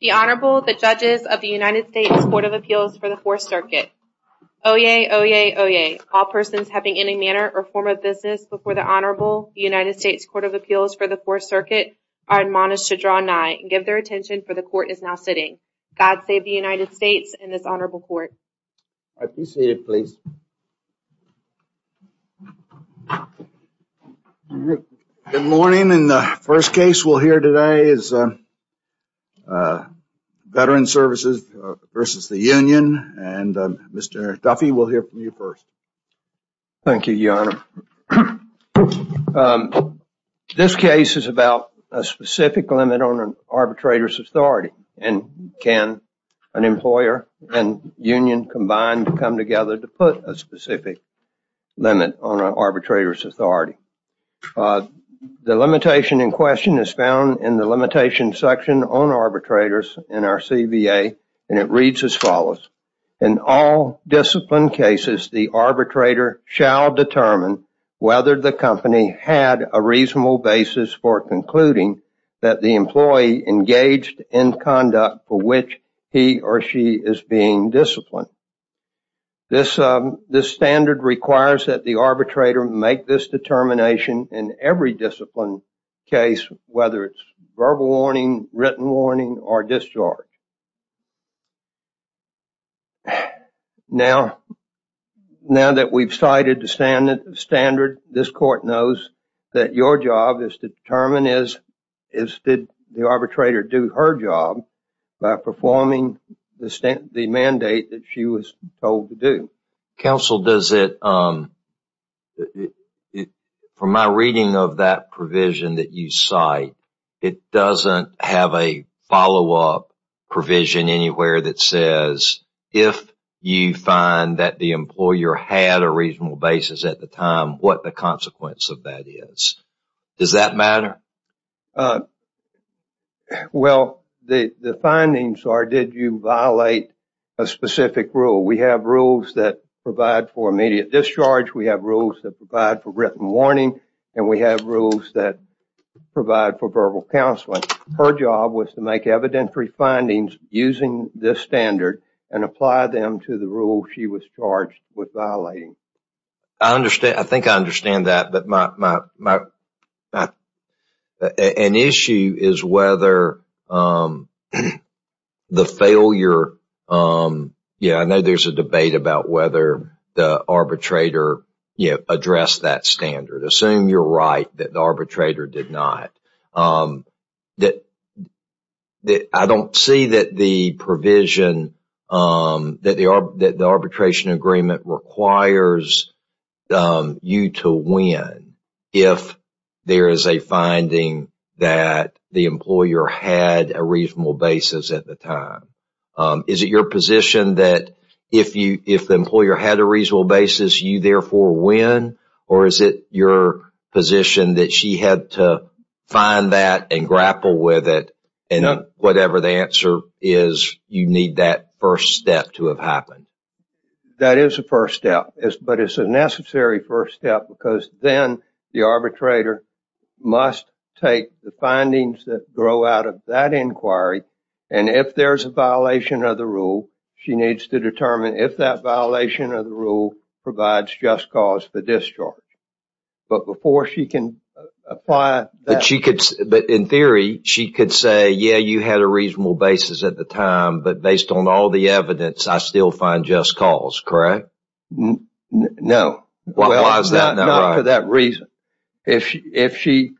The Honorable, the Judges of the United States Court of Appeals for the Fourth Circuit. Oyez, oyez, oyez. All persons having any manner or form of business before the Honorable, the United States Court of Appeals for the Fourth Circuit, are admonished to draw nigh and give their attention for the court is now sitting. God save the United States and this Honorable Court. I appreciate it, please. Good morning, and the first case we'll hear today is Veterans Services versus the Union, and Mr. Duffy, we'll hear from you first. Thank you, Your Honor. This case is about a specific limit on an arbitrator's authority, and can an employer and union combine to come limit on an arbitrator's authority. The limitation in question is found in the limitation section on arbitrators in our CBA, and it reads as follows. In all disciplined cases, the arbitrator shall determine whether the company had a reasonable basis for concluding that the employee engaged in conduct for which he or she is being disciplined. This standard requires that the arbitrator make this determination in every disciplined case, whether it's verbal warning, written warning, or discharge. Now that we've cited the standard, this court knows that your job is to determine if the arbitrator did her job by performing the mandate that she was told to do. Counsel, from my reading of that provision that you cite, it doesn't have a follow-up provision anywhere that says if you find that the employer had a reasonable basis at the time, what the reason is. Well, the findings are, did you violate a specific rule? We have rules that provide for immediate discharge, we have rules that provide for written warning, and we have rules that provide for verbal counseling. Her job was to make evidentiary findings using this standard and apply them to the rule she was charged with violating. I think I understand that, but an issue is whether the failure, yeah, I know there's a debate about whether the arbitrator addressed that standard. Assume you're right that the arbitrator did not. I don't see that the provision that the arbitration agreement requires you to win if there is a finding that the employer had a reasonable basis at the time. Is it your position that if the employer had a reasonable basis, you therefore win, or is it your position that she had to find that and grapple with it, and whatever the answer is, you need that first step to have happened? That is a first step, but it's a necessary first step because then the arbitrator must take the findings that grow out of that inquiry, and if there's a violation of the rule, she needs to determine if that violation of the rule provides just cause for discharge. But before she can apply that... She could, but in theory, she could say, yeah, you had a reasonable basis at the time, but based on all the evidence, I still find just cause, correct? No, not for that reason. If she...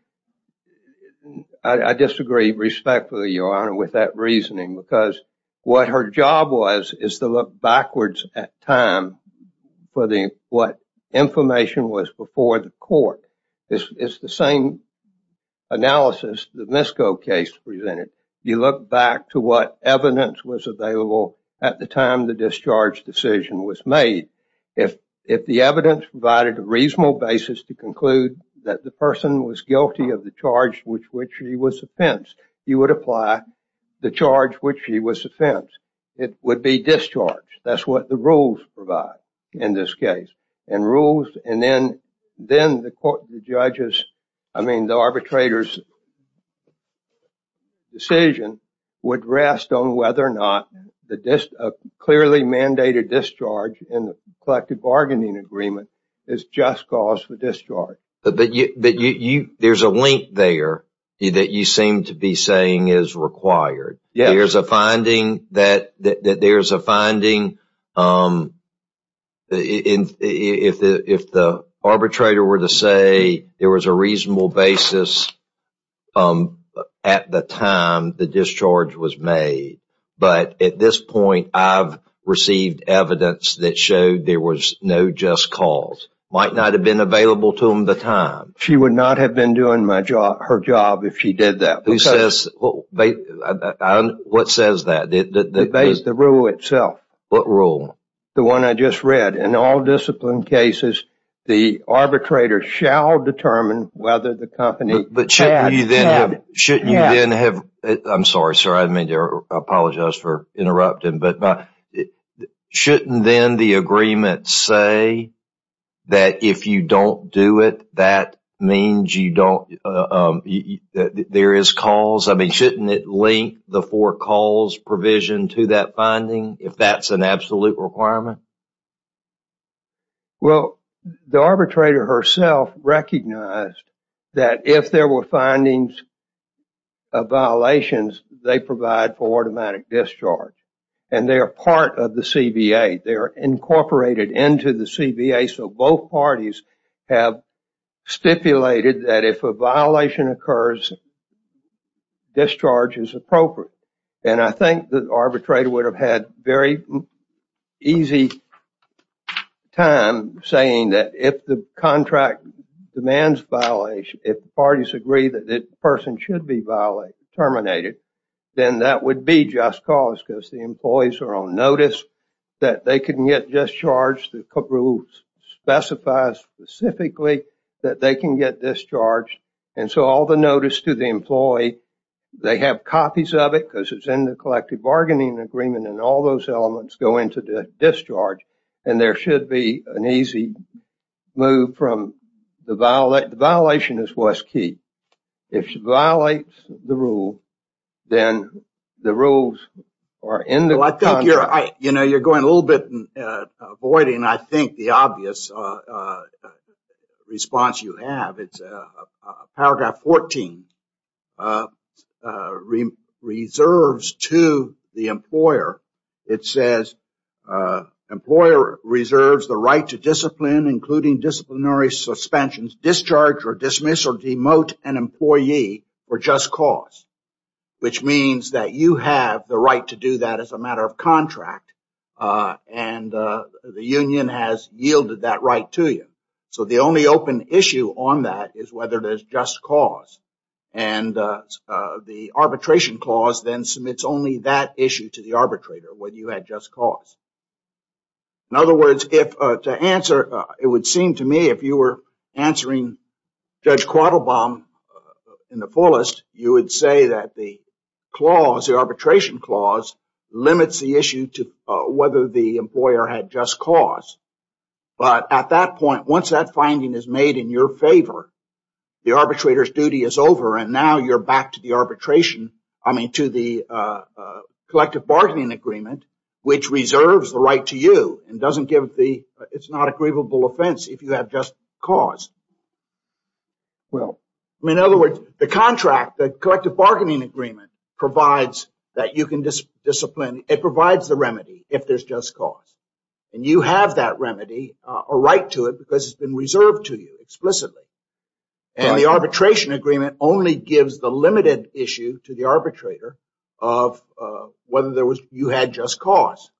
I disagree respectfully, Your Honor, with that reasoning because what her job was is to look backwards at time for what information was before the court. It's the same analysis the Misko case presented. You look back to what evidence was available at the time the discharge decision was made. If the evidence provided a reasonable basis to conclude that the person was guilty of the charge with which she was offensed, you would apply the charge with which she was offensed. It would be discharged. That's what rules provide in this case, and then the arbitrator's decision would rest on whether or not a clearly mandated discharge in the collective bargaining agreement is just cause for discharge. But there's a link there that you seem to be saying is required. There's a finding that there's a finding... If the arbitrator were to say there was a reasonable basis at the time the discharge was made, but at this point, I've received evidence that showed there was no just cause. Might not have been available to them at the time. She would not have been doing her job if she did that. What says that? The rule itself. What rule? The one I just read. In all discipline cases, the arbitrator shall determine whether the company... Shouldn't you then have... I'm sorry, sir. I apologize for interrupting, but shouldn't then the agreement say that if you don't do it, that means you don't... There is cause. I mean, shouldn't it link the four calls provision to that finding if that's an absolute requirement? Well, the arbitrator herself recognized that if there were findings of violations, they provide for automatic discharge, and they are part of the CBA. They are incorporated into the CBA, so both parties have stipulated that if a violation occurs, discharge is appropriate. And I think the arbitrator would have had very easy time saying that if the contract demands violation, if the parties agree that the person should be terminated, then that would be just cause because the employees are on notice that they can get discharged. The rules specify specifically that they can get discharged, and so all the notice to the employee, they have copies of it because it's in the collective bargaining agreement, and all those elements go into the discharge, and there should be an easy move from the... The violation is what's key. If she violates the rule, then the rules are in the... You know, you're going a little bit avoiding, I think, the obvious response you have. It's paragraph 14, reserves to the employer. It says, employer reserves the right to discipline, including disciplinary suspensions, discharge, or dismiss, or demote an employee for just cause, which means that you have the right to do that as a matter of contract, and the union has yielded that right to you. So the only open issue on that is whether there's just cause, and the arbitration clause then submits only that issue to the arbitrator, whether you had just cause. In other words, if to answer, it would seem to me if you were answering Judge Quattlebaum in the fullest, you would say that the clause, the arbitration clause, limits the issue to whether the employer had just cause. But at that point, once that finding is made in your favor, the arbitrator's duty is over, and now you're back to the arbitration, I mean, to the collective bargaining agreement, which reserves the right to you, and doesn't give the... It's not a grievable offense if you have just cause. Well, in other words, the contract, the collective bargaining agreement provides that you can discipline. It provides the remedy if there's just cause, and you have that remedy, a right to it, because it's been reserved to you explicitly, and the arbitration agreement only gives the limited issue to the arbitrator of whether you had just cause.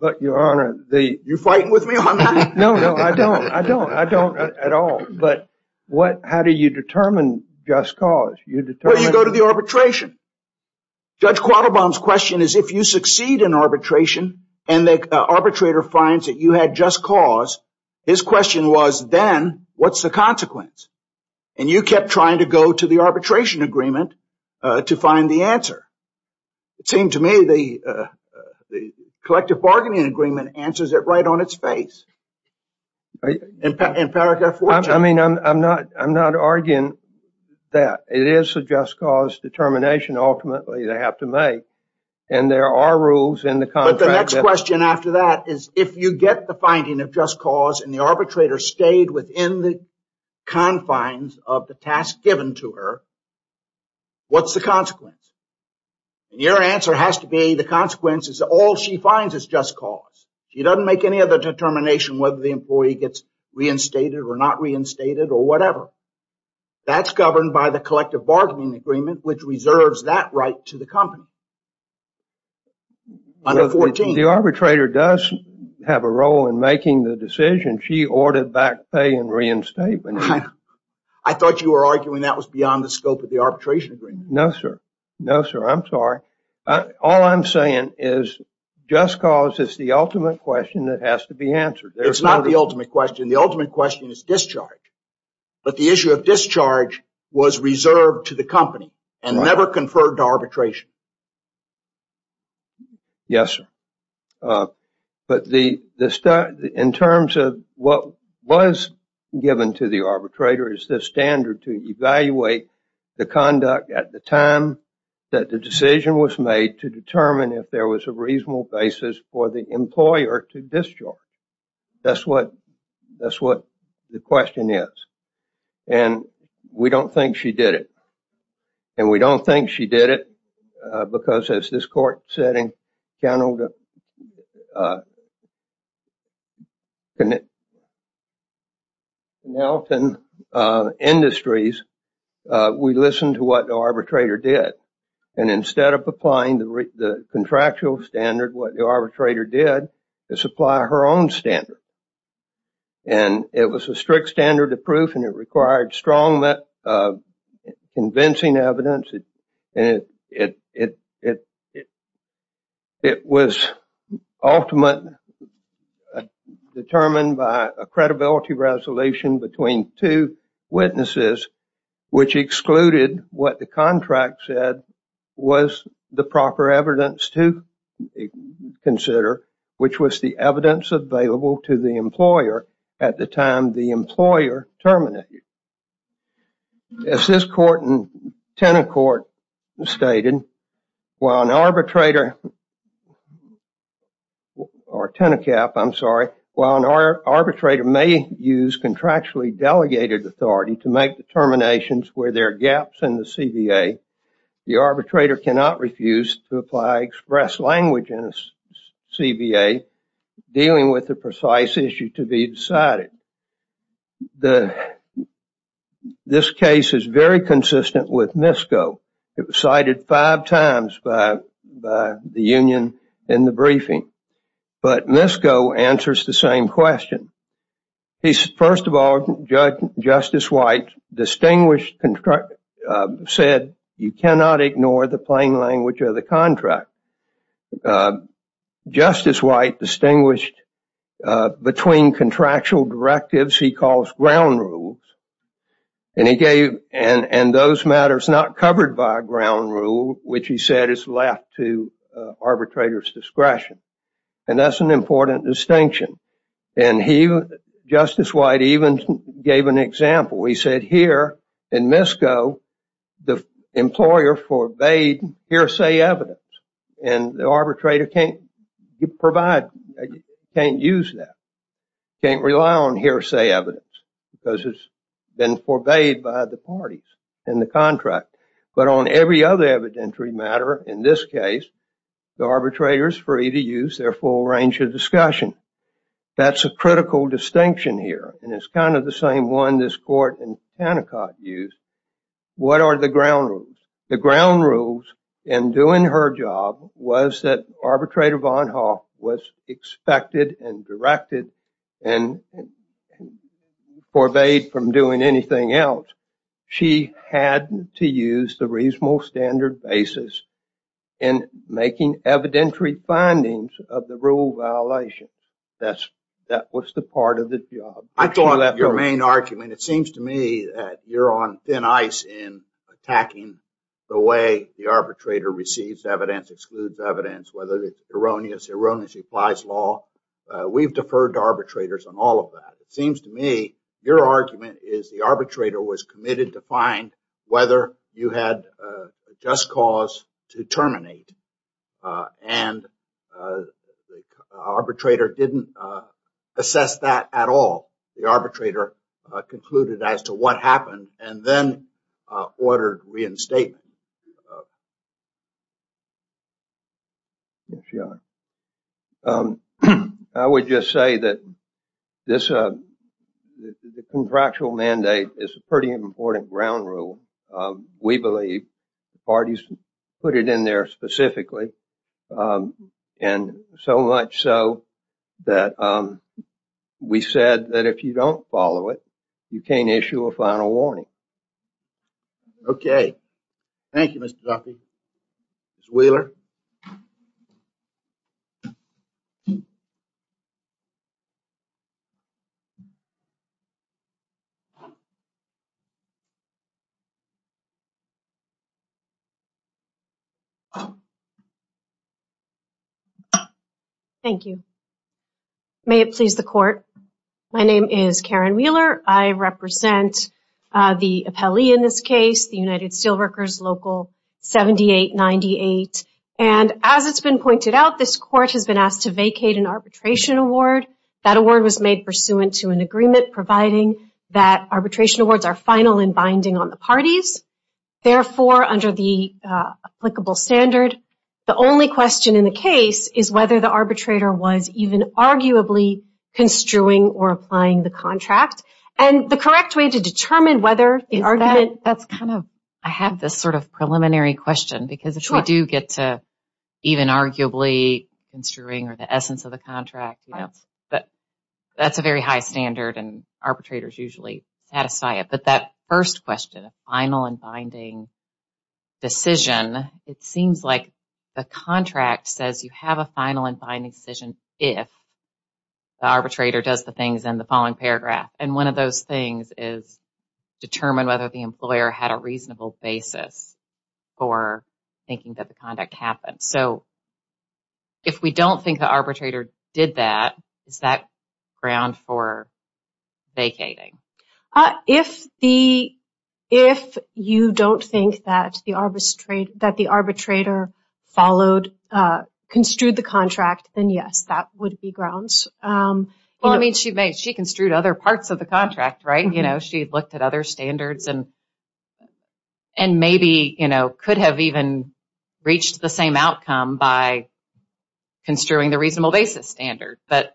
But Your Honor, you're fighting with me on that? No, no, I don't, I don't, I don't at all. But how do you determine just cause? Well, you go to the arbitration. Judge Quattlebaum's question is if you succeed in arbitration, and the arbitrator finds that you had just cause, his question was, then what's the consequence? And you kept trying to go to the it seemed to me the collective bargaining agreement answers it right on its face. I mean, I'm not, I'm not arguing that. It is a just cause determination, ultimately, they have to make, and there are rules in the contract. But the next question after that is, if you get the finding of just cause, and the arbitrator stayed within the Your answer has to be the consequence is all she finds is just cause. She doesn't make any other determination whether the employee gets reinstated or not reinstated or whatever. That's governed by the collective bargaining agreement, which reserves that right to the company. Under 14, the arbitrator does have a role in making the decision she ordered back pay and reinstatement. I thought you were arguing that was beyond the scope of the arbitration. No, sir. No, sir. I'm sorry. All I'm saying is, just cause is the ultimate question that has to be answered. It's not the ultimate question. The ultimate question is discharge. But the issue of discharge was reserved to the company and never conferred arbitration. Yes. But the the study in terms of what was given to the arbitrator is the standard to evaluate the conduct at the time that the decision was made to determine if there was a reasonable basis for the employer to discharge. That's what that's what the question is. And we don't think she did it. And we don't think she did it. Because as this court setting, we listened to what the arbitrator did. And instead of applying the contractual standard, what the arbitrator did is apply her own standard. And it was a strict standard to was ultimate determined by a credibility resolution between two witnesses, which excluded what the contract said was the proper evidence to consider, which was the evidence available to the employer at the time the employer terminated. As this court and tenant court stated, while an arbitrator or tenant cap, I'm sorry, while an arbitrator may use contractually delegated authority to make determinations where there are gaps in the CBA, the arbitrator cannot refuse to apply express language in a CBA dealing with the precise issue to be decided. The this case is very consistent with MISCO. It was cited five times by the union in the briefing. But MISCO answers the same question. He's first of all, Justice White distinguished said you cannot ignore the plain language of the contract. Justice White distinguished between contractual directives he calls ground rules. And he gave and those matters not covered by ground rule, which he said is left to arbitrators discretion. And that's an important distinction. And he, Justice White even gave an example. He said here in MISCO, the employer forbade hearsay evidence. And the arbitrator can't provide, can't use that, can't rely on hearsay evidence because it's been forbade by the parties in the contract. But on every other evidentiary matter, in this case, the arbitrator is free to use their full range of discussion. That's a critical distinction here. And it's kind of the same one this court and tenant court used. What are the ground rules? The ground rules in doing her job was that arbitrator Von Hoff was expected and directed and forbade from doing anything else. She had to use the reasonable standard basis in making evidentiary findings of the rule violation. That's that was the part of I thought that your main argument, it seems to me that you're on thin ice in attacking the way the arbitrator receives evidence, excludes evidence, whether it's erroneous, erroneously applies law. We've deferred to arbitrators on all of that. It seems to me your argument is the arbitrator was committed to find whether you had just cause to terminate. And the arbitrator didn't assess that at all. The arbitrator concluded as to what happened and then ordered reinstatement. I would just say that this contractual mandate is a pretty important ground rule. We believe the parties put it in there specifically and so much so that we said that if you don't follow it, you can't issue a final warning. Okay. Thank you, Mr. Duffy. Ms. Wheeler. Thank you. May it please the court. My name is Karen Wheeler. I represent the appellee in this case. And as it's been pointed out, this court has been asked to vacate an arbitration award. That award was made pursuant to an agreement providing that arbitration awards are final and binding on the parties. Therefore, under the applicable standard, the only question in the case is whether the arbitrator was even arguably construing or applying the contract. And the because if we do get to even arguably construing or the essence of the contract, but that's a very high standard and arbitrators usually satisfy it. But that first question, final and binding decision, it seems like the contract says you have a final and binding decision if the arbitrator does the things in the following paragraph. And one of those things is determine whether the employer had a reasonable basis for thinking that the conduct happened. So if we don't think the arbitrator did that, is that ground for vacating? If you don't think that the arbitrator followed, construed the contract, then yes, that would be grounds. Well, I mean, she made she construed other parts of the contract, right? She looked at other standards and maybe could have even reached the same outcome by construing the reasonable basis standard. But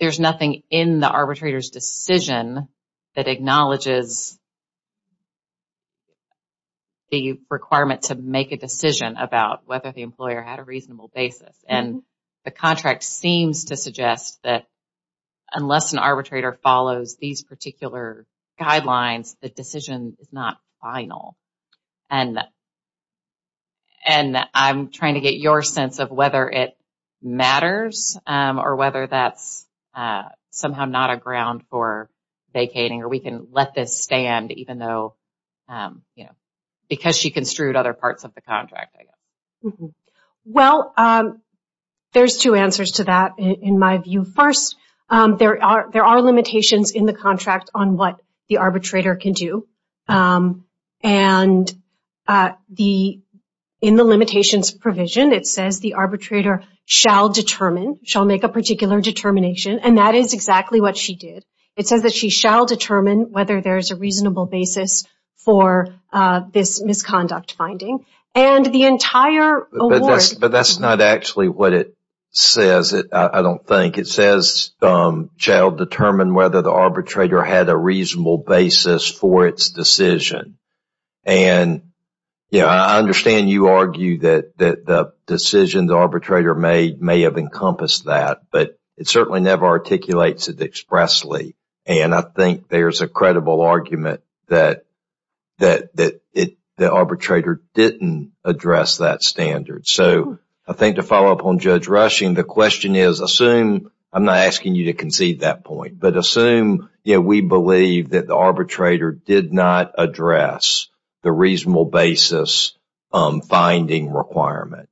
there's nothing in the arbitrator's decision that acknowledges the requirement to make a decision about whether the employer had a reasonable basis. And the contract seems to suggest that unless an arbitrator follows these particular guidelines, the decision is not final. And I'm trying to get your sense of whether it matters or whether that's somehow not a ground for vacating or we can let this stand even though, you know, because she construed other parts of the contract. Mm-hmm. Well, there's two answers to that in my view. First, there are limitations in the contract on what the arbitrator can do. And in the limitations provision, it says the arbitrator shall determine, shall make a particular determination. And that is exactly what she did. It says that she shall determine whether there's a reasonable basis for this misconduct finding. But that's not actually what it says, I don't think. It says shall determine whether the arbitrator had a reasonable basis for its decision. And yeah, I understand you argue that the decision the arbitrator made may have encompassed that, but it certainly never articulates it expressly. And I think there's a credible argument that the arbitrator didn't address that standard. So, I think to follow up on Judge Rushing, the question is, assume, I'm not asking you to concede that point, but assume, you know, we believe that the arbitrator did not address the reasonable basis finding requirement.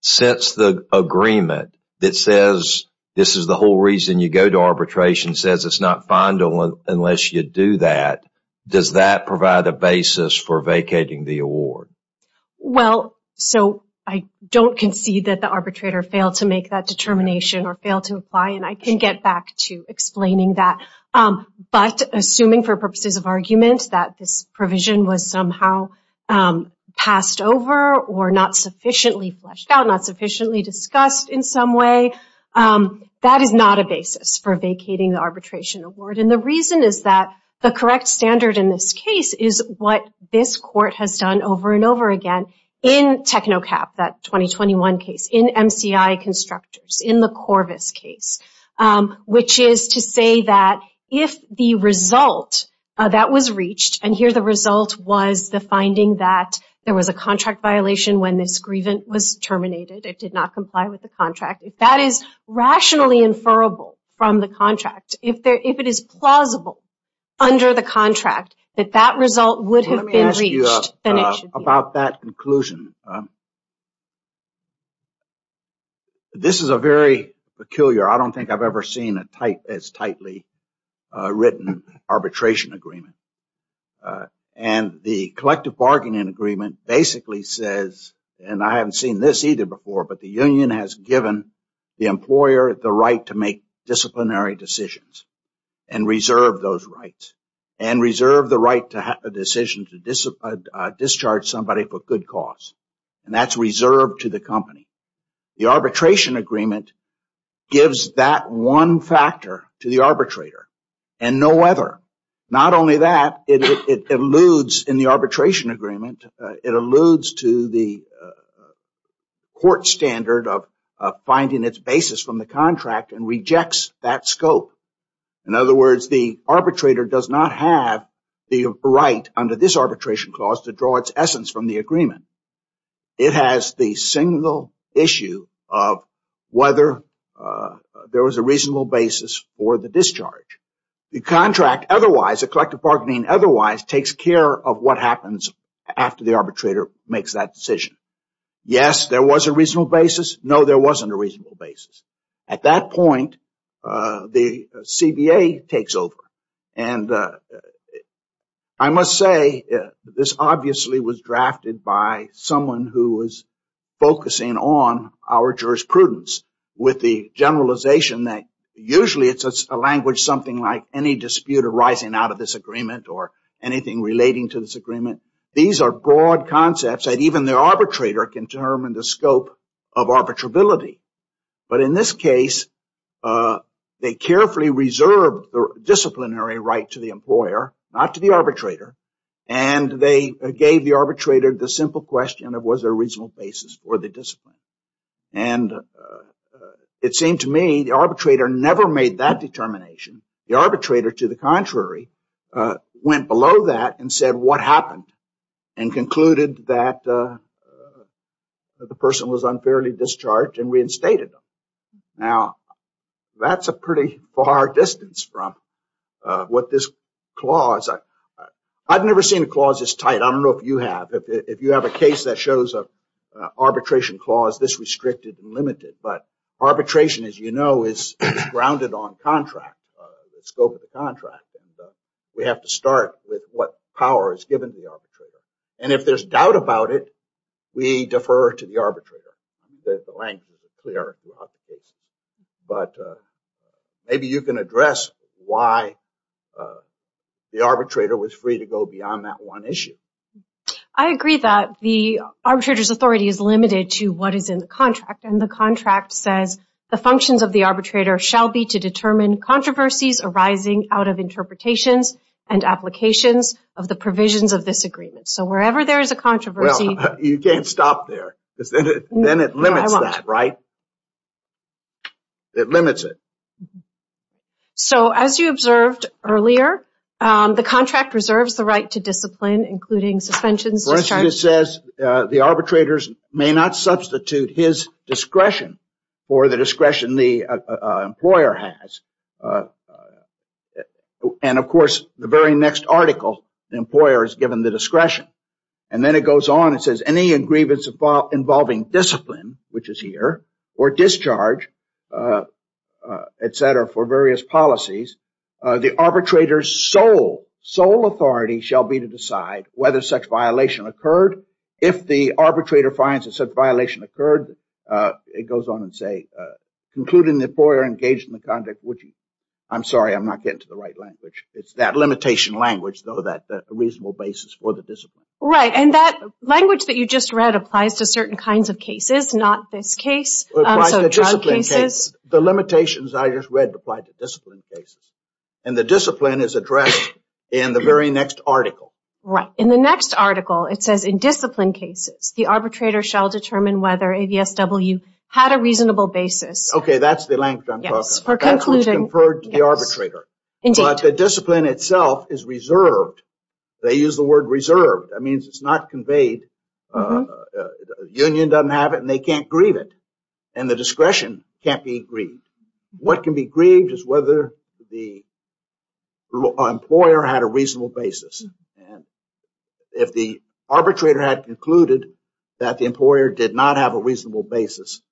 Since the agreement that says this is the whole reason you go to arbitration says it's not final unless you do that, does that provide a basis for vacating the award? Well, so I don't concede that the arbitrator failed to make that determination or failed to apply, and I can get back to explaining that. But assuming for purposes of argument that this provision was somehow passed over or not sufficiently fleshed out, not sufficiently discussed in some way, that is not a basis for vacating the arbitration award. And the reason is that the correct standard in this case is what this court has done over and over again in TECNOCAP, that 2021 case, in MCI Constructors, in the Corvis case, which is to say that if the result that was reached, and here the result was the finding that there was a contract violation when this grievance was terminated, it did not comply with the contract, if that is rationally inferable from the contract, if it is plausible under the contract, that that result would have been reached, then it should be. Let me ask you about that conclusion. This is a very peculiar, I don't think I've ever seen a tight, as tightly written arbitration agreement. And the collective bargaining agreement basically says, and I haven't seen this either before, but the union has given the employer the right to make disciplinary decisions and reserve those rights and reserve the right to have a decision to discharge somebody for good cause. And that's reserved to the company. The arbitration agreement gives that one factor to the arbitrator and no other. Not only that, it alludes in the arbitration agreement, it alludes to the court standard of finding its basis from the contract and rejects that scope. In other words, the arbitrator does not have the right under this arbitration clause to draw its essence from the or the discharge. The contract otherwise, the collective bargaining otherwise takes care of what happens after the arbitrator makes that decision. Yes, there was a reasonable basis. No, there wasn't a reasonable basis. At that point, the CBA takes over. And I must say, this obviously was drafted by someone who was focusing on our jurisprudence with the generalization that usually it's a language, something like any dispute arising out of this agreement or anything relating to this agreement. These are broad concepts that even the arbitrator can determine the scope of arbitrability. But in this case, they carefully reserve the disciplinary right to the employer, not to the arbitrator. And they gave the arbitrator the simple question of was there a reasonable basis for the discipline. And it seemed to me the arbitrator never made that determination. The arbitrator, to the contrary, went below that and said what happened and concluded that the person was unfairly discharged and reinstated. Now, that's a pretty far distance from what this clause. I've never seen a clause as tight. I don't know if you have. If you have a case that shows an arbitration clause this restricted and limited. But arbitration, as you know, is grounded on contract, the scope of the contract. And we have to start with what power is given to the arbitrator. And if there's doubt about it, we defer to the arbitrator. The language is clear throughout the case. But maybe you can address why the arbitrator was free to go beyond that one issue. I agree that the arbitrator's authority is limited to what is in the contract. And the contract says the functions of the arbitrator shall be to determine controversies arising out of interpretations and applications of the provisions of this agreement. So wherever there is a controversy... Well, you can't stop there because then it limits that, right? It limits it. So as you observed earlier, the contract reserves the right to discipline, including suspensions... For instance, it says the arbitrators may not substitute his discretion for the discretion the employer has. And of course, the very next article, the employer is given the discretion. And then it goes on and says any grievance involving discipline, which is here, or discharge, et cetera, for various policies, the arbitrator's sole authority shall be to decide whether such violation occurred. If the arbitrator finds that such violation occurred, it goes on and say, concluding the employer engaged in the conduct, which... I'm sorry, I'm not getting to the right language. It's that limitation language, though, that a reasonable basis for the discipline. Right. And that language that you just read applies to certain kinds of cases, not this case. The limitations I just read apply to discipline cases. And the discipline is addressed in the very next article. Right. In the next article, it says, in discipline cases, the arbitrator shall determine whether AVSW had a reasonable basis. Okay. That's the language I'm talking about. That's what's conferred to the arbitrator. But the discipline itself is reserved. They use the word reserved. That means it's not conveyed. Union doesn't have it and they can't grieve it. And the discretion can't be grieved. What can be grieved is whether the employer had a reasonable basis. And if the arbitrator had concluded that the employer did not have a reasonable basis,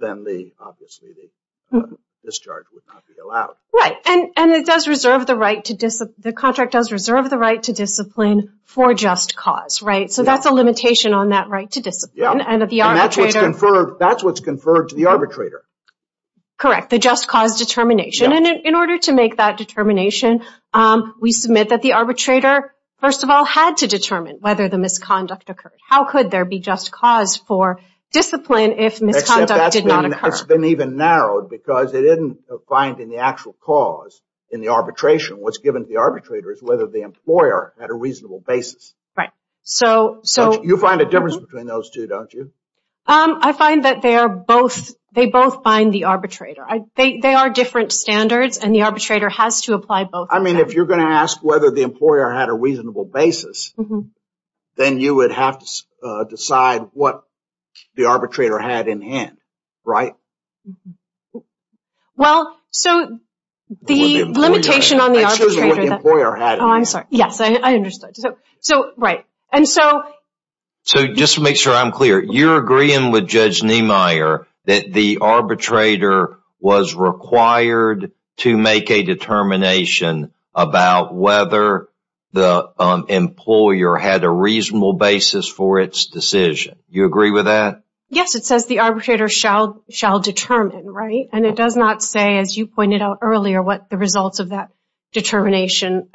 then obviously the discharge would not be allowed. Right. And the contract does reserve the right to discipline for just cause. So that's a limitation on that right to discipline. And that's what's conferred to the arbitrator. Correct. The just cause determination. And in order to make that determination, we submit that the arbitrator, first of all, had to determine whether the misconduct occurred. How could there be just cause for discipline if misconduct did not occur? That's been even narrowed because it isn't finding the actual cause in the arbitration. What's given to the arbitrator is whether the employer had a reasonable basis. Right. So... You find a difference between those two, don't you? I find that they are both, they both bind the arbitrator. They are different standards and the arbitrator has to apply both. I mean, if you're going to ask whether the employer had a reasonable basis, then you would have to decide what the arbitrator had in hand. Right. Well, so the limitation on the arbitrator... I'm sorry. Yes, I understood. So, right. And so... So just to make sure I'm clear, you're agreeing with Judge Niemeyer that the arbitrator was required to make a determination about whether the employer had a reasonable basis for its decision. You agree with that? Yes. It says the arbitrator shall determine, right? And it does not say, as you pointed out earlier, what the results of that determination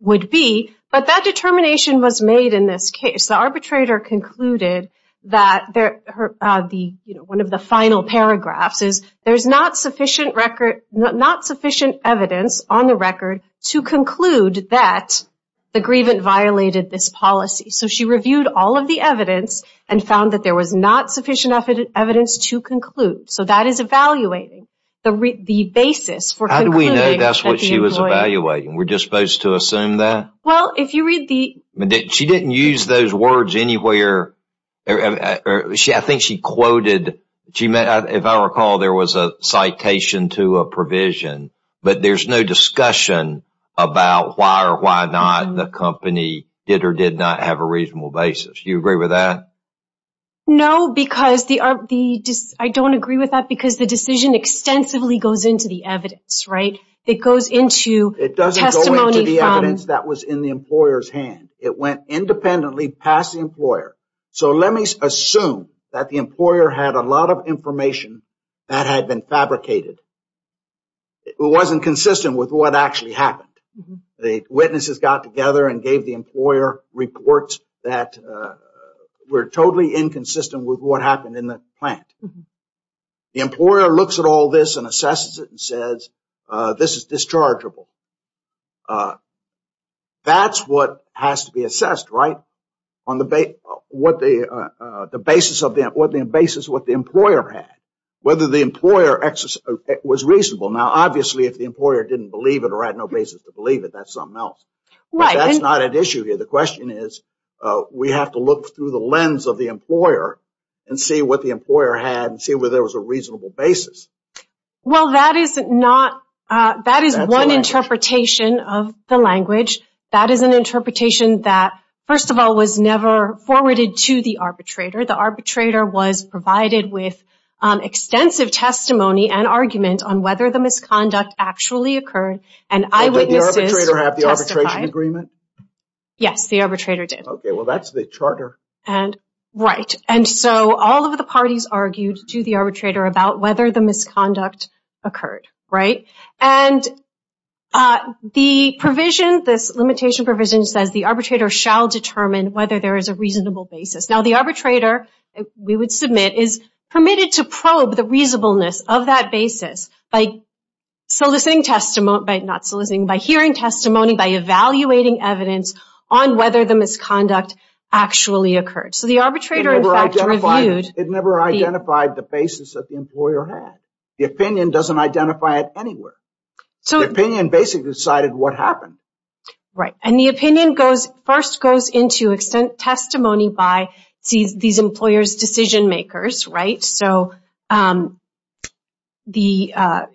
would be, but that determination was made in this case. The arbitrator concluded that one of the final paragraphs is there's not sufficient record, not sufficient evidence on the record to conclude that the grievant violated this policy. So, she reviewed all of the evidence and found that there was not sufficient evidence to conclude. So, that is evaluating the basis for concluding... How do we know that's what she was evaluating? We're just supposed to assume that? Well, if you read the... She didn't use those words anywhere. I think she quoted... If I recall, there was a citation to a provision, but there's no discussion about why or why not the company did or did not have a reasonable basis. You agree with that? No, because the... I don't agree with that because the decision extensively goes into the evidence, right? It goes into testimony from... It doesn't go into the evidence that was in the employer's hand. It went independently past the employer. So, let me assume that the employer had a lot of information that had been fabricated. It wasn't consistent with what actually happened. The witnesses got together and gave the employer reports that were totally inconsistent with what happened in the plant. The employer looks at all this and assesses it and says, this is dischargeable. That's what has to be assessed, right? On the basis of what the employer had, whether the employer was reasonable. Obviously, if the employer didn't believe it or had no basis to believe it, that's something else. That's not an issue here. The question is, we have to look through the lens of the employer and see what the employer had and see whether there was a reasonable basis. Well, that is not... That is one interpretation of the language. That is an interpretation that, first of all, was never forwarded to the arbitrator. The arbitrator was provided with extensive testimony and argument on whether the misconduct actually occurred. Did the arbitrator have the arbitration agreement? Yes. The arbitrator did. Okay. Well, that's the charter. Right. And so, all of the parties argued to the arbitrator about whether the misconduct occurred, right? And the limitation provision says the arbitrator shall determine whether there is a reasonable basis. Now, the arbitrator, we would submit, is permitted to probe the reasonableness of that basis by soliciting testimony... By not soliciting, by hearing testimony, by evaluating evidence on whether the misconduct actually occurred. So, the arbitrator, in fact, reviewed... It never identified the basis that the employer had. The opinion doesn't identify it anywhere. So... The opinion basically decided what happened. Right. And the opinion first goes into testimony by these employer's decision makers, right? So, the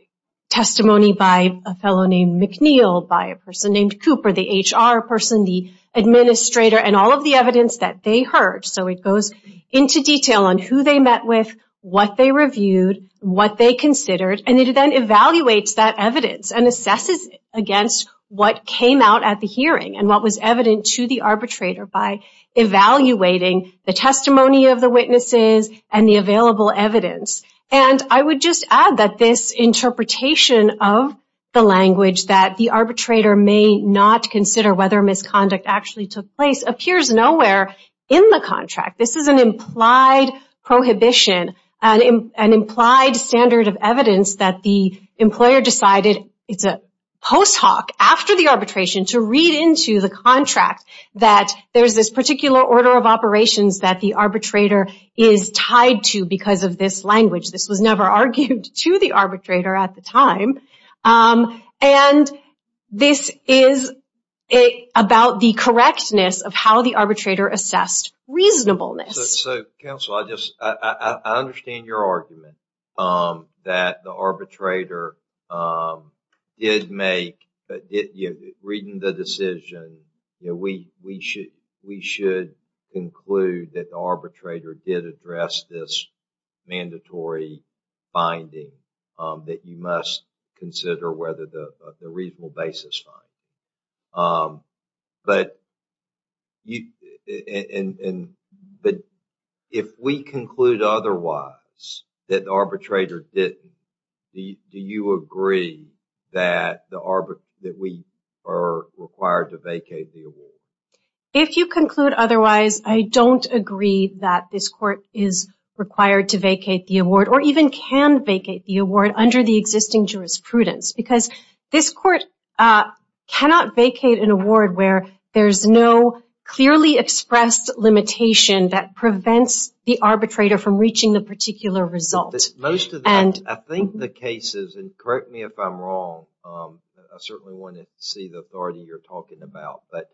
testimony by a fellow named McNeil, by a person named Cooper, the HR person, the administrator, and all of the evidence that they heard. So, it goes into detail on who they met with, what they reviewed, what they considered, and it then evaluates that evidence and assesses against what came out at the hearing and what was evident to the arbitrator by evaluating the testimony of the witnesses and the available evidence. And I would just add that this interpretation of the language that the arbitrator may not consider whether misconduct actually took place appears nowhere in the contract. This is an implied prohibition, an implied standard of evidence that the employer decided, it's a post hoc, after the arbitration to read into the contract that there's this particular order of operations that the arbitrator is tied to because of this language. This was never argued to the arbitrator at the time. And this is about the correctness of how the arbitrator assessed reasonableness. So, counsel, I just, I understand your argument that the arbitrator did make, reading the decision, you know, we should conclude that the arbitrator did address this mandatory finding that you must consider whether the reasonable basis fine. But if we conclude otherwise that the arbitrator didn't, do you agree that we are required to vacate the award? If you conclude otherwise, I don't agree that this court is required to vacate the award or even can vacate the award under the existing jurisprudence because this court cannot vacate an award where there's no clearly expressed limitation that prevents the arbitrator from reaching the particular result. Most of them, I think the cases, and correct me if I'm wrong, I certainly want to see the authority you're talking about, but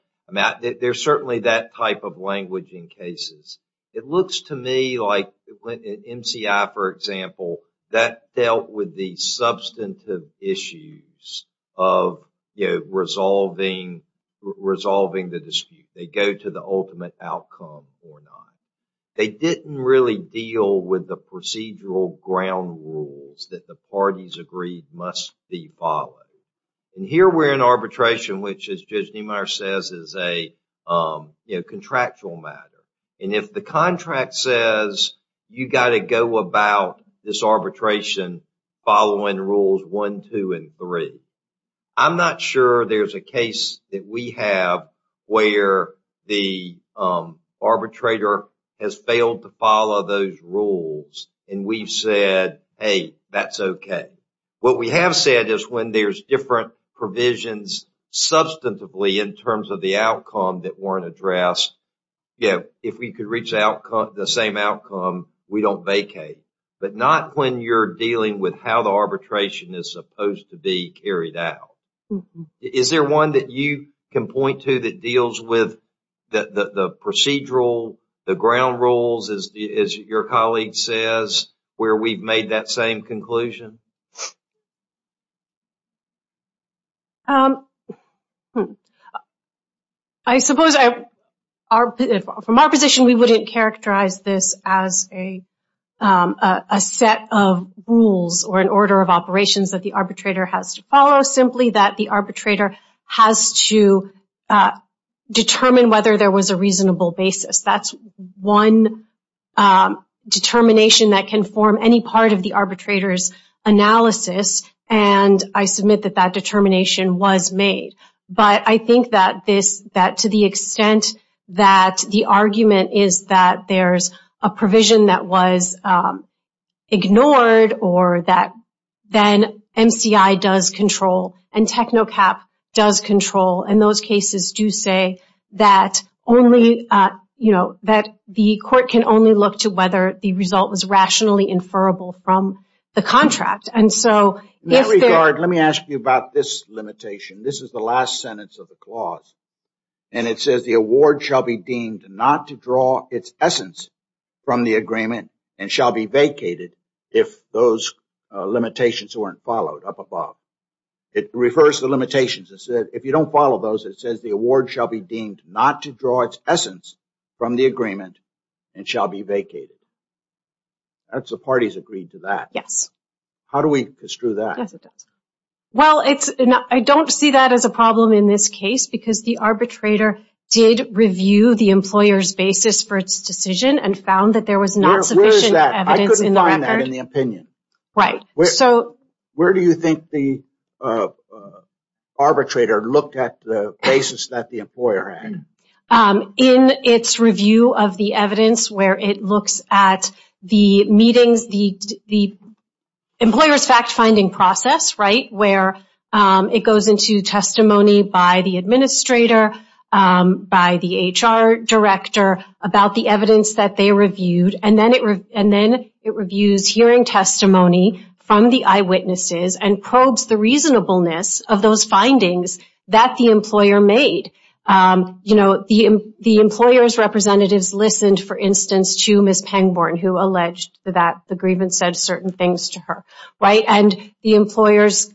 there's certainly that type of language in cases. It looks to me like when MCI, for example, that dealt with the substantive issues of, you know, resolving the dispute. They go to the ultimate outcome or not. They didn't really deal with the procedural ground rules that the parties agreed must be followed. And here we're in arbitration, which, as Judge Niemeyer says, is a, you know, contractual matter. And if the contract says you got to go about this arbitration following rules one, two, and three, I'm not sure there's a case that we have where the arbitrator has failed to follow those rules and we've said, hey, that's okay. What we have said is when there's different provisions substantively in terms of the outcome that weren't addressed, if we could reach the same outcome, we don't vacate. But not when you're dealing with how the arbitration is supposed to be carried out. Is there one that you can point to that deals with the procedural, the ground rules, as your colleague says, where we've made that same conclusion? I suppose from our position, we wouldn't characterize this as a set of rules or an order of operations that the arbitrator has to follow, simply that the arbitrator has to determine whether there was a reasonable basis. That's one determination that can form any part of the arbitrator's analysis. And I submit that that determination was made. But I think that to the extent that the argument is that there's a provision that was ignored or that then MCI does control and TECNOCAP does control, and those cases do say that only, you know, that the court can only look to whether the result was rationally inferable from the contract. And so, in that regard, let me ask you about this limitation. This is the last sentence of the clause. And it says the award shall be deemed not to draw its essence from the agreement and shall be vacated if those limitations weren't followed up above. It refers to the limitations. It says if you don't follow those, it says the award shall be deemed not to draw its essence from the agreement and shall be vacated. That's the parties agreed to that. Yes. How do we construe that? Yes, it does. Well, I don't see that as a problem in this case because the arbitrator did review the employer's basis for its decision and found that there was not sufficient evidence in the record. Where is that? I couldn't find that in the opinion. Right. So, where do you think the arbitrator looked at the basis that the employer had? In its review of the evidence where it looks at the meetings, the employer's fact-finding process, right, where it goes into testimony by the administrator, by the HR director about the from the eyewitnesses and probes the reasonableness of those findings that the employer made. You know, the employer's representatives listened, for instance, to Ms. Pangborn who alleged that the grievance said certain things to her, right? And the employer's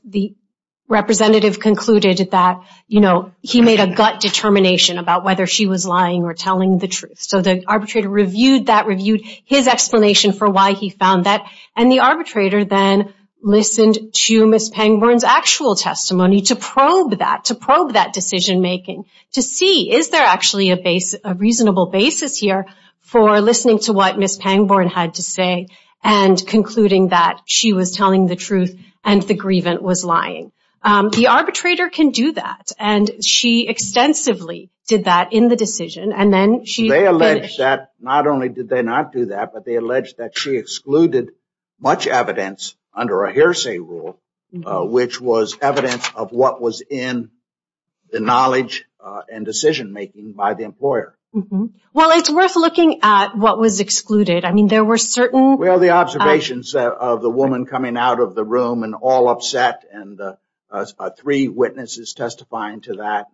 representative concluded that, you know, he made a gut determination about whether she was lying or telling the truth. So, the arbitrator reviewed that, reviewed his explanation for why he found that, and the arbitrator then listened to Ms. Pangborn's actual testimony to probe that, to probe that decision-making to see is there actually a reasonable basis here for listening to what Ms. Pangborn had to say and concluding that she was telling the truth and the grievance was lying. The arbitrator can do that and she extensively did that in the decision and then she... They allege that not only did they not do that, but they allege that she excluded much evidence under a hearsay rule which was evidence of what was in the knowledge and decision-making by the employer. Well, it's worth looking at what was excluded. I mean, there were certain... Well, the observations of the woman coming out of the room and all upset and the three witnesses testifying to that,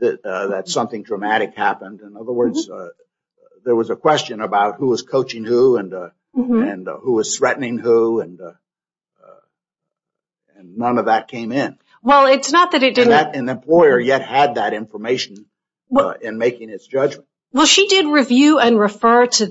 that something dramatic happened. In other words, there was a question about who was coaching who and who was threatening who and none of that came in. Well, it's not that it didn't... An employer yet had that information in making its judgment. Well, she did review and refer to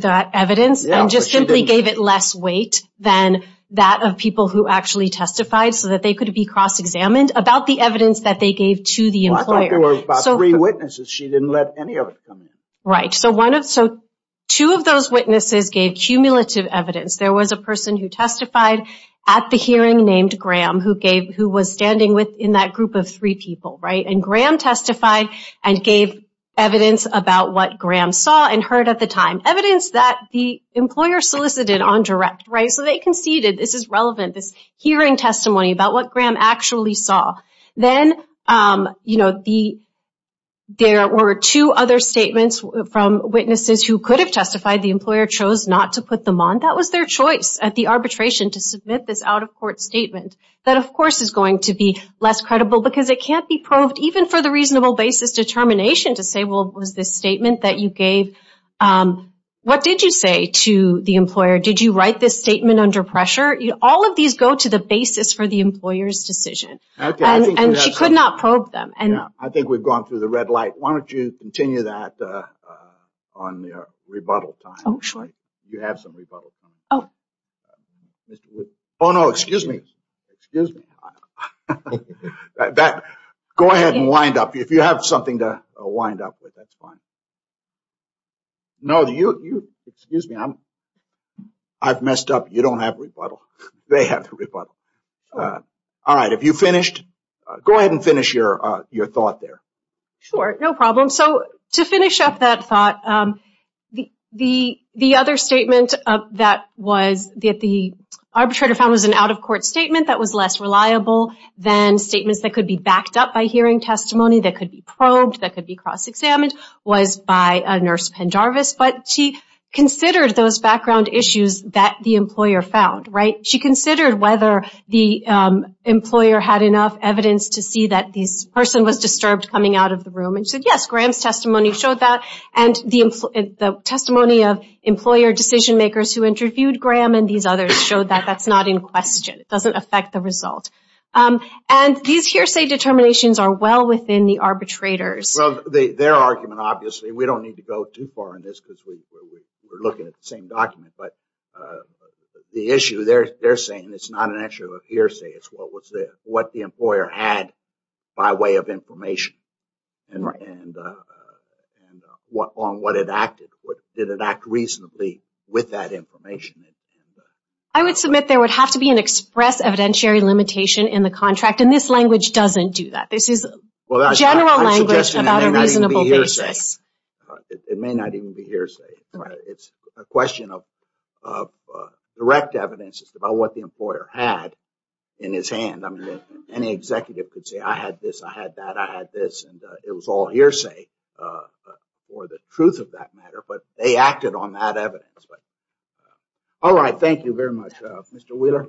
that evidence and just simply gave it less weight than that of people who actually testified so that they could be cross-examined about the evidence that they gave to the employer. Well, I thought there were about three witnesses. She didn't let any of it come in. Right. So two of those witnesses gave cumulative evidence. There was a person who testified at the hearing named Graham who was standing within that group of three people, right? And Graham testified and gave evidence about what Graham saw and heard at the time. Evidence that the employer solicited on direct, right? So they conceded, this is relevant, this hearing testimony about what Graham actually saw. Then, you know, there were two other statements from witnesses who could have testified. The employer chose not to put them on. That was their choice at the arbitration to submit this out-of-court statement. That of course is going to be less credible because it can't be proved even for the reasonable basis determination to give. What did you say to the employer? Did you write this statement under pressure? All of these go to the basis for the employer's decision. And she could not probe them. I think we've gone through the red light. Why don't you continue that on your rebuttal time? Oh, sure. You have some rebuttal time. Oh, no, excuse me. Go ahead and wind up. If you have something to wind up with, that's fine. No, you, excuse me. I've messed up. You don't have rebuttal. They have the rebuttal. All right, have you finished? Go ahead and finish your thought there. Sure, no problem. So to finish up that thought, the other statement that the arbitrator found was an out-of-court statement that was less reliable than statements that could be backed by the employer. She considered whether the employer had enough evidence to see that this person was disturbed coming out of the room. And she said, yes, Graham's testimony showed that. And the testimony of employer decision-makers who interviewed Graham and these others showed that that's not in question. It doesn't affect the result. And these hearsay determinations are well within the arbitrator's. Well, their argument, obviously, we don't need to go too far in this because we're looking at the same document. But the issue they're saying, it's not an issue of hearsay. It's what the employer had by way of information and on what it acted. Did it act reasonably with that information? I would submit there would have to be an express evidentiary limitation in the contract. And this language doesn't do that. This is general language about a reasonable basis. It may not even be hearsay. It's a question of direct evidence about what the employer had in his hand. I mean, any executive could say, I had this, I had that, I had this. And it was all hearsay for the truth of that matter. But they acted on that evidence. All right. Thank you very much, Mr. Wheeler.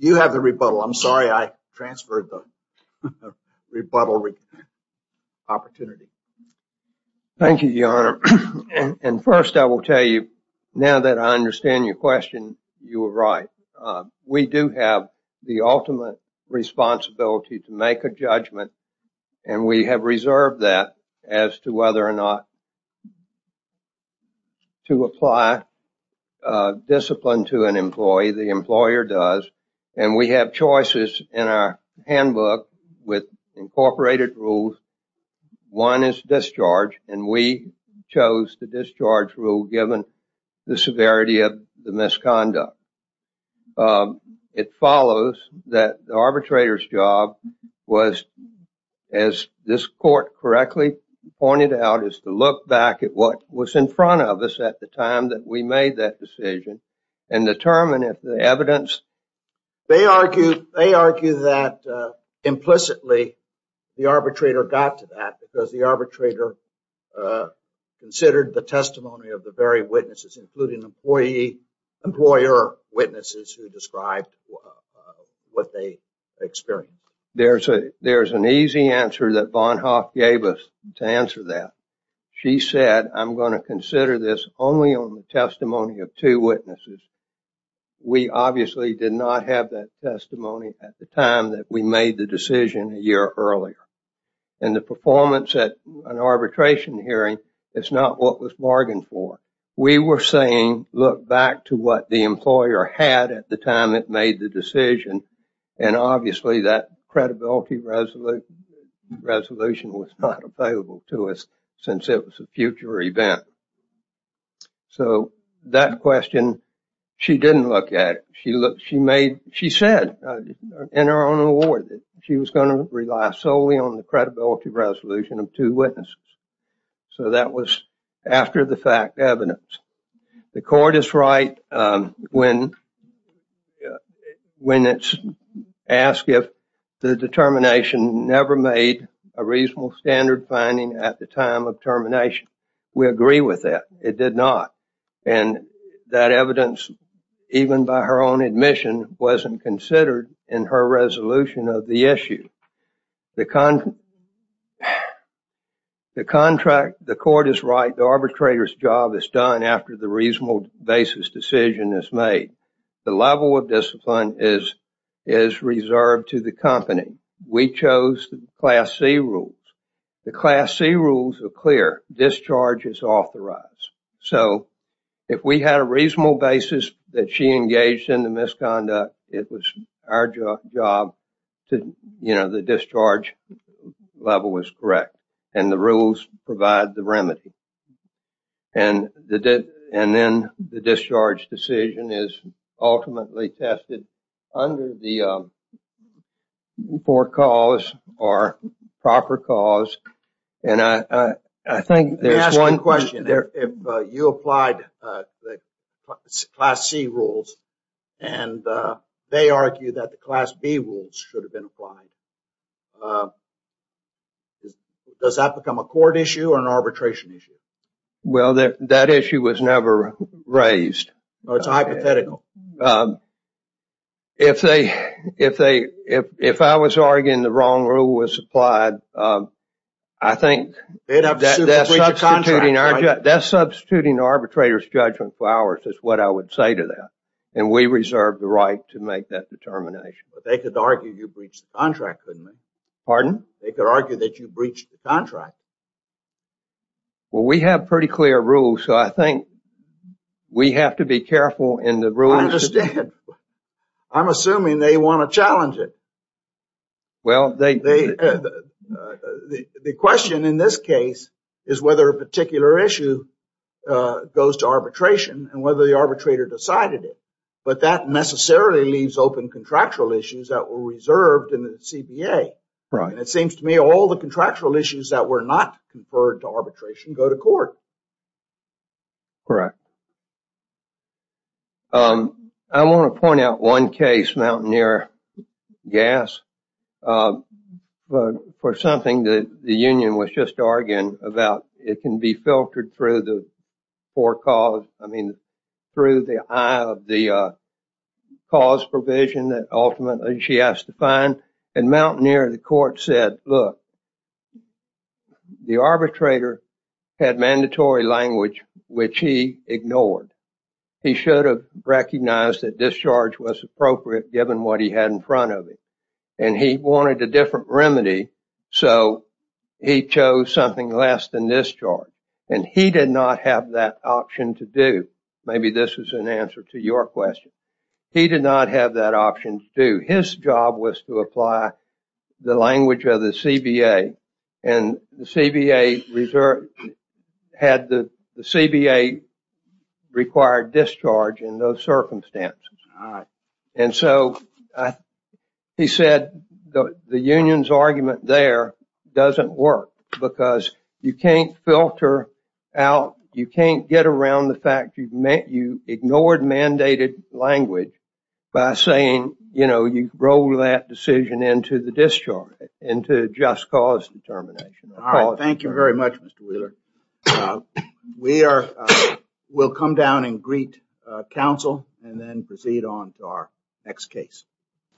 You have the rebuttal. I'm sorry, I transferred the rebuttal opportunity. Thank you, Your Honor. And first, I will tell you, now that I understand your question, you were right. We do have the ultimate responsibility to make a judgment. And we have reserved that as to whether or not to apply discipline to an employee. The employer does. And we have choices in our handbook with incorporated rules. One is discharge. And we chose the discharge rule given the severity of the misconduct. It follows that the arbitrator's job was, as this court correctly pointed out, is to look back at what was in front of us at the time that we made that decision and determine if the evidence... They argue that implicitly, the arbitrator got to that because arbitrator considered the testimony of the very witnesses, including employer witnesses who described what they experienced. There's an easy answer that Bonhoeff gave us to answer that. She said, I'm going to consider this only on the testimony of two witnesses. We obviously did not have that testimony at the time that we made the decision a year earlier. And the performance at an arbitration hearing is not what was bargained for. We were saying, look back to what the employer had at the time it made the decision. And obviously, that credibility resolution was not available to us since it was a future event. So that question, she didn't look at it. She looked, she made, she said in her own award, she was going to rely solely on the credibility resolution of two witnesses. So that was after the fact evidence. The court is right when it's asked if the determination never made a reasonable standard finding at the time of termination. We agree with that. It did not. And that evidence, even by her own admission, wasn't considered in her resolution of the issue. The contract, the court is right, the arbitrator's job is done after the reasonable basis decision is made. The level of discipline is reserved to the company. We chose the class C rules. The class C rules are clear. Discharge is authorized. So if we had a reasonable basis that she engaged in the misconduct, it was our job to, you know, the discharge level was correct. And the rules provide the remedy. And then the discharge decision is ultimately tested under the poor cause or proper cause. And I think there's one question there. If you applied the class C rules and they argue that the class B rules should have been applied, does that become a court issue or an arbitration issue? Well, that issue was never raised. No, it's hypothetical. If they if they if if I was arguing the wrong rule was applied, I think that's substituting arbitrator's judgment for ours is what I would say to them. And we reserve the right to make that determination. But they could argue you breached the contract, couldn't they? They could argue that you breached the contract. Well, we have pretty clear rules, so I think we have to be careful in the rules. I understand. I'm assuming they want to challenge it. Well, they they the question in this case is whether a particular issue goes to arbitration and whether the arbitrator decided it. But that necessarily leaves open contractual issues that were reserved in the CBA. It seems to me all the contractual issues that were not conferred to arbitration go to court. Correct. I want to point out one case, Mountaineer Gas, for something that the union was just arguing about. It can be filtered through the four cause. I mean, through the eye of the cause provision that ultimately she has to find. And Mountaineer, the court said, look, the arbitrator had mandatory language, which he ignored. He should have recognized that discharge was appropriate given what he had in front of him. And he wanted a different remedy. So he chose something less than this charge. And he did not have that option to do. Maybe this is an answer to your question. He did not have that option to do. His job was to apply the language of the CBA. And the CBA had the CBA required discharge in those circumstances. And so he said the union's argument there doesn't work because you can't filter out, you can't get around the fact you've met, you ignored mandated language by saying, you know, you roll that decision into the discharge, into just cause determination. All right. Thank you very much, Mr. Wheeler. We will come down and greet counsel and then proceed on to our next case.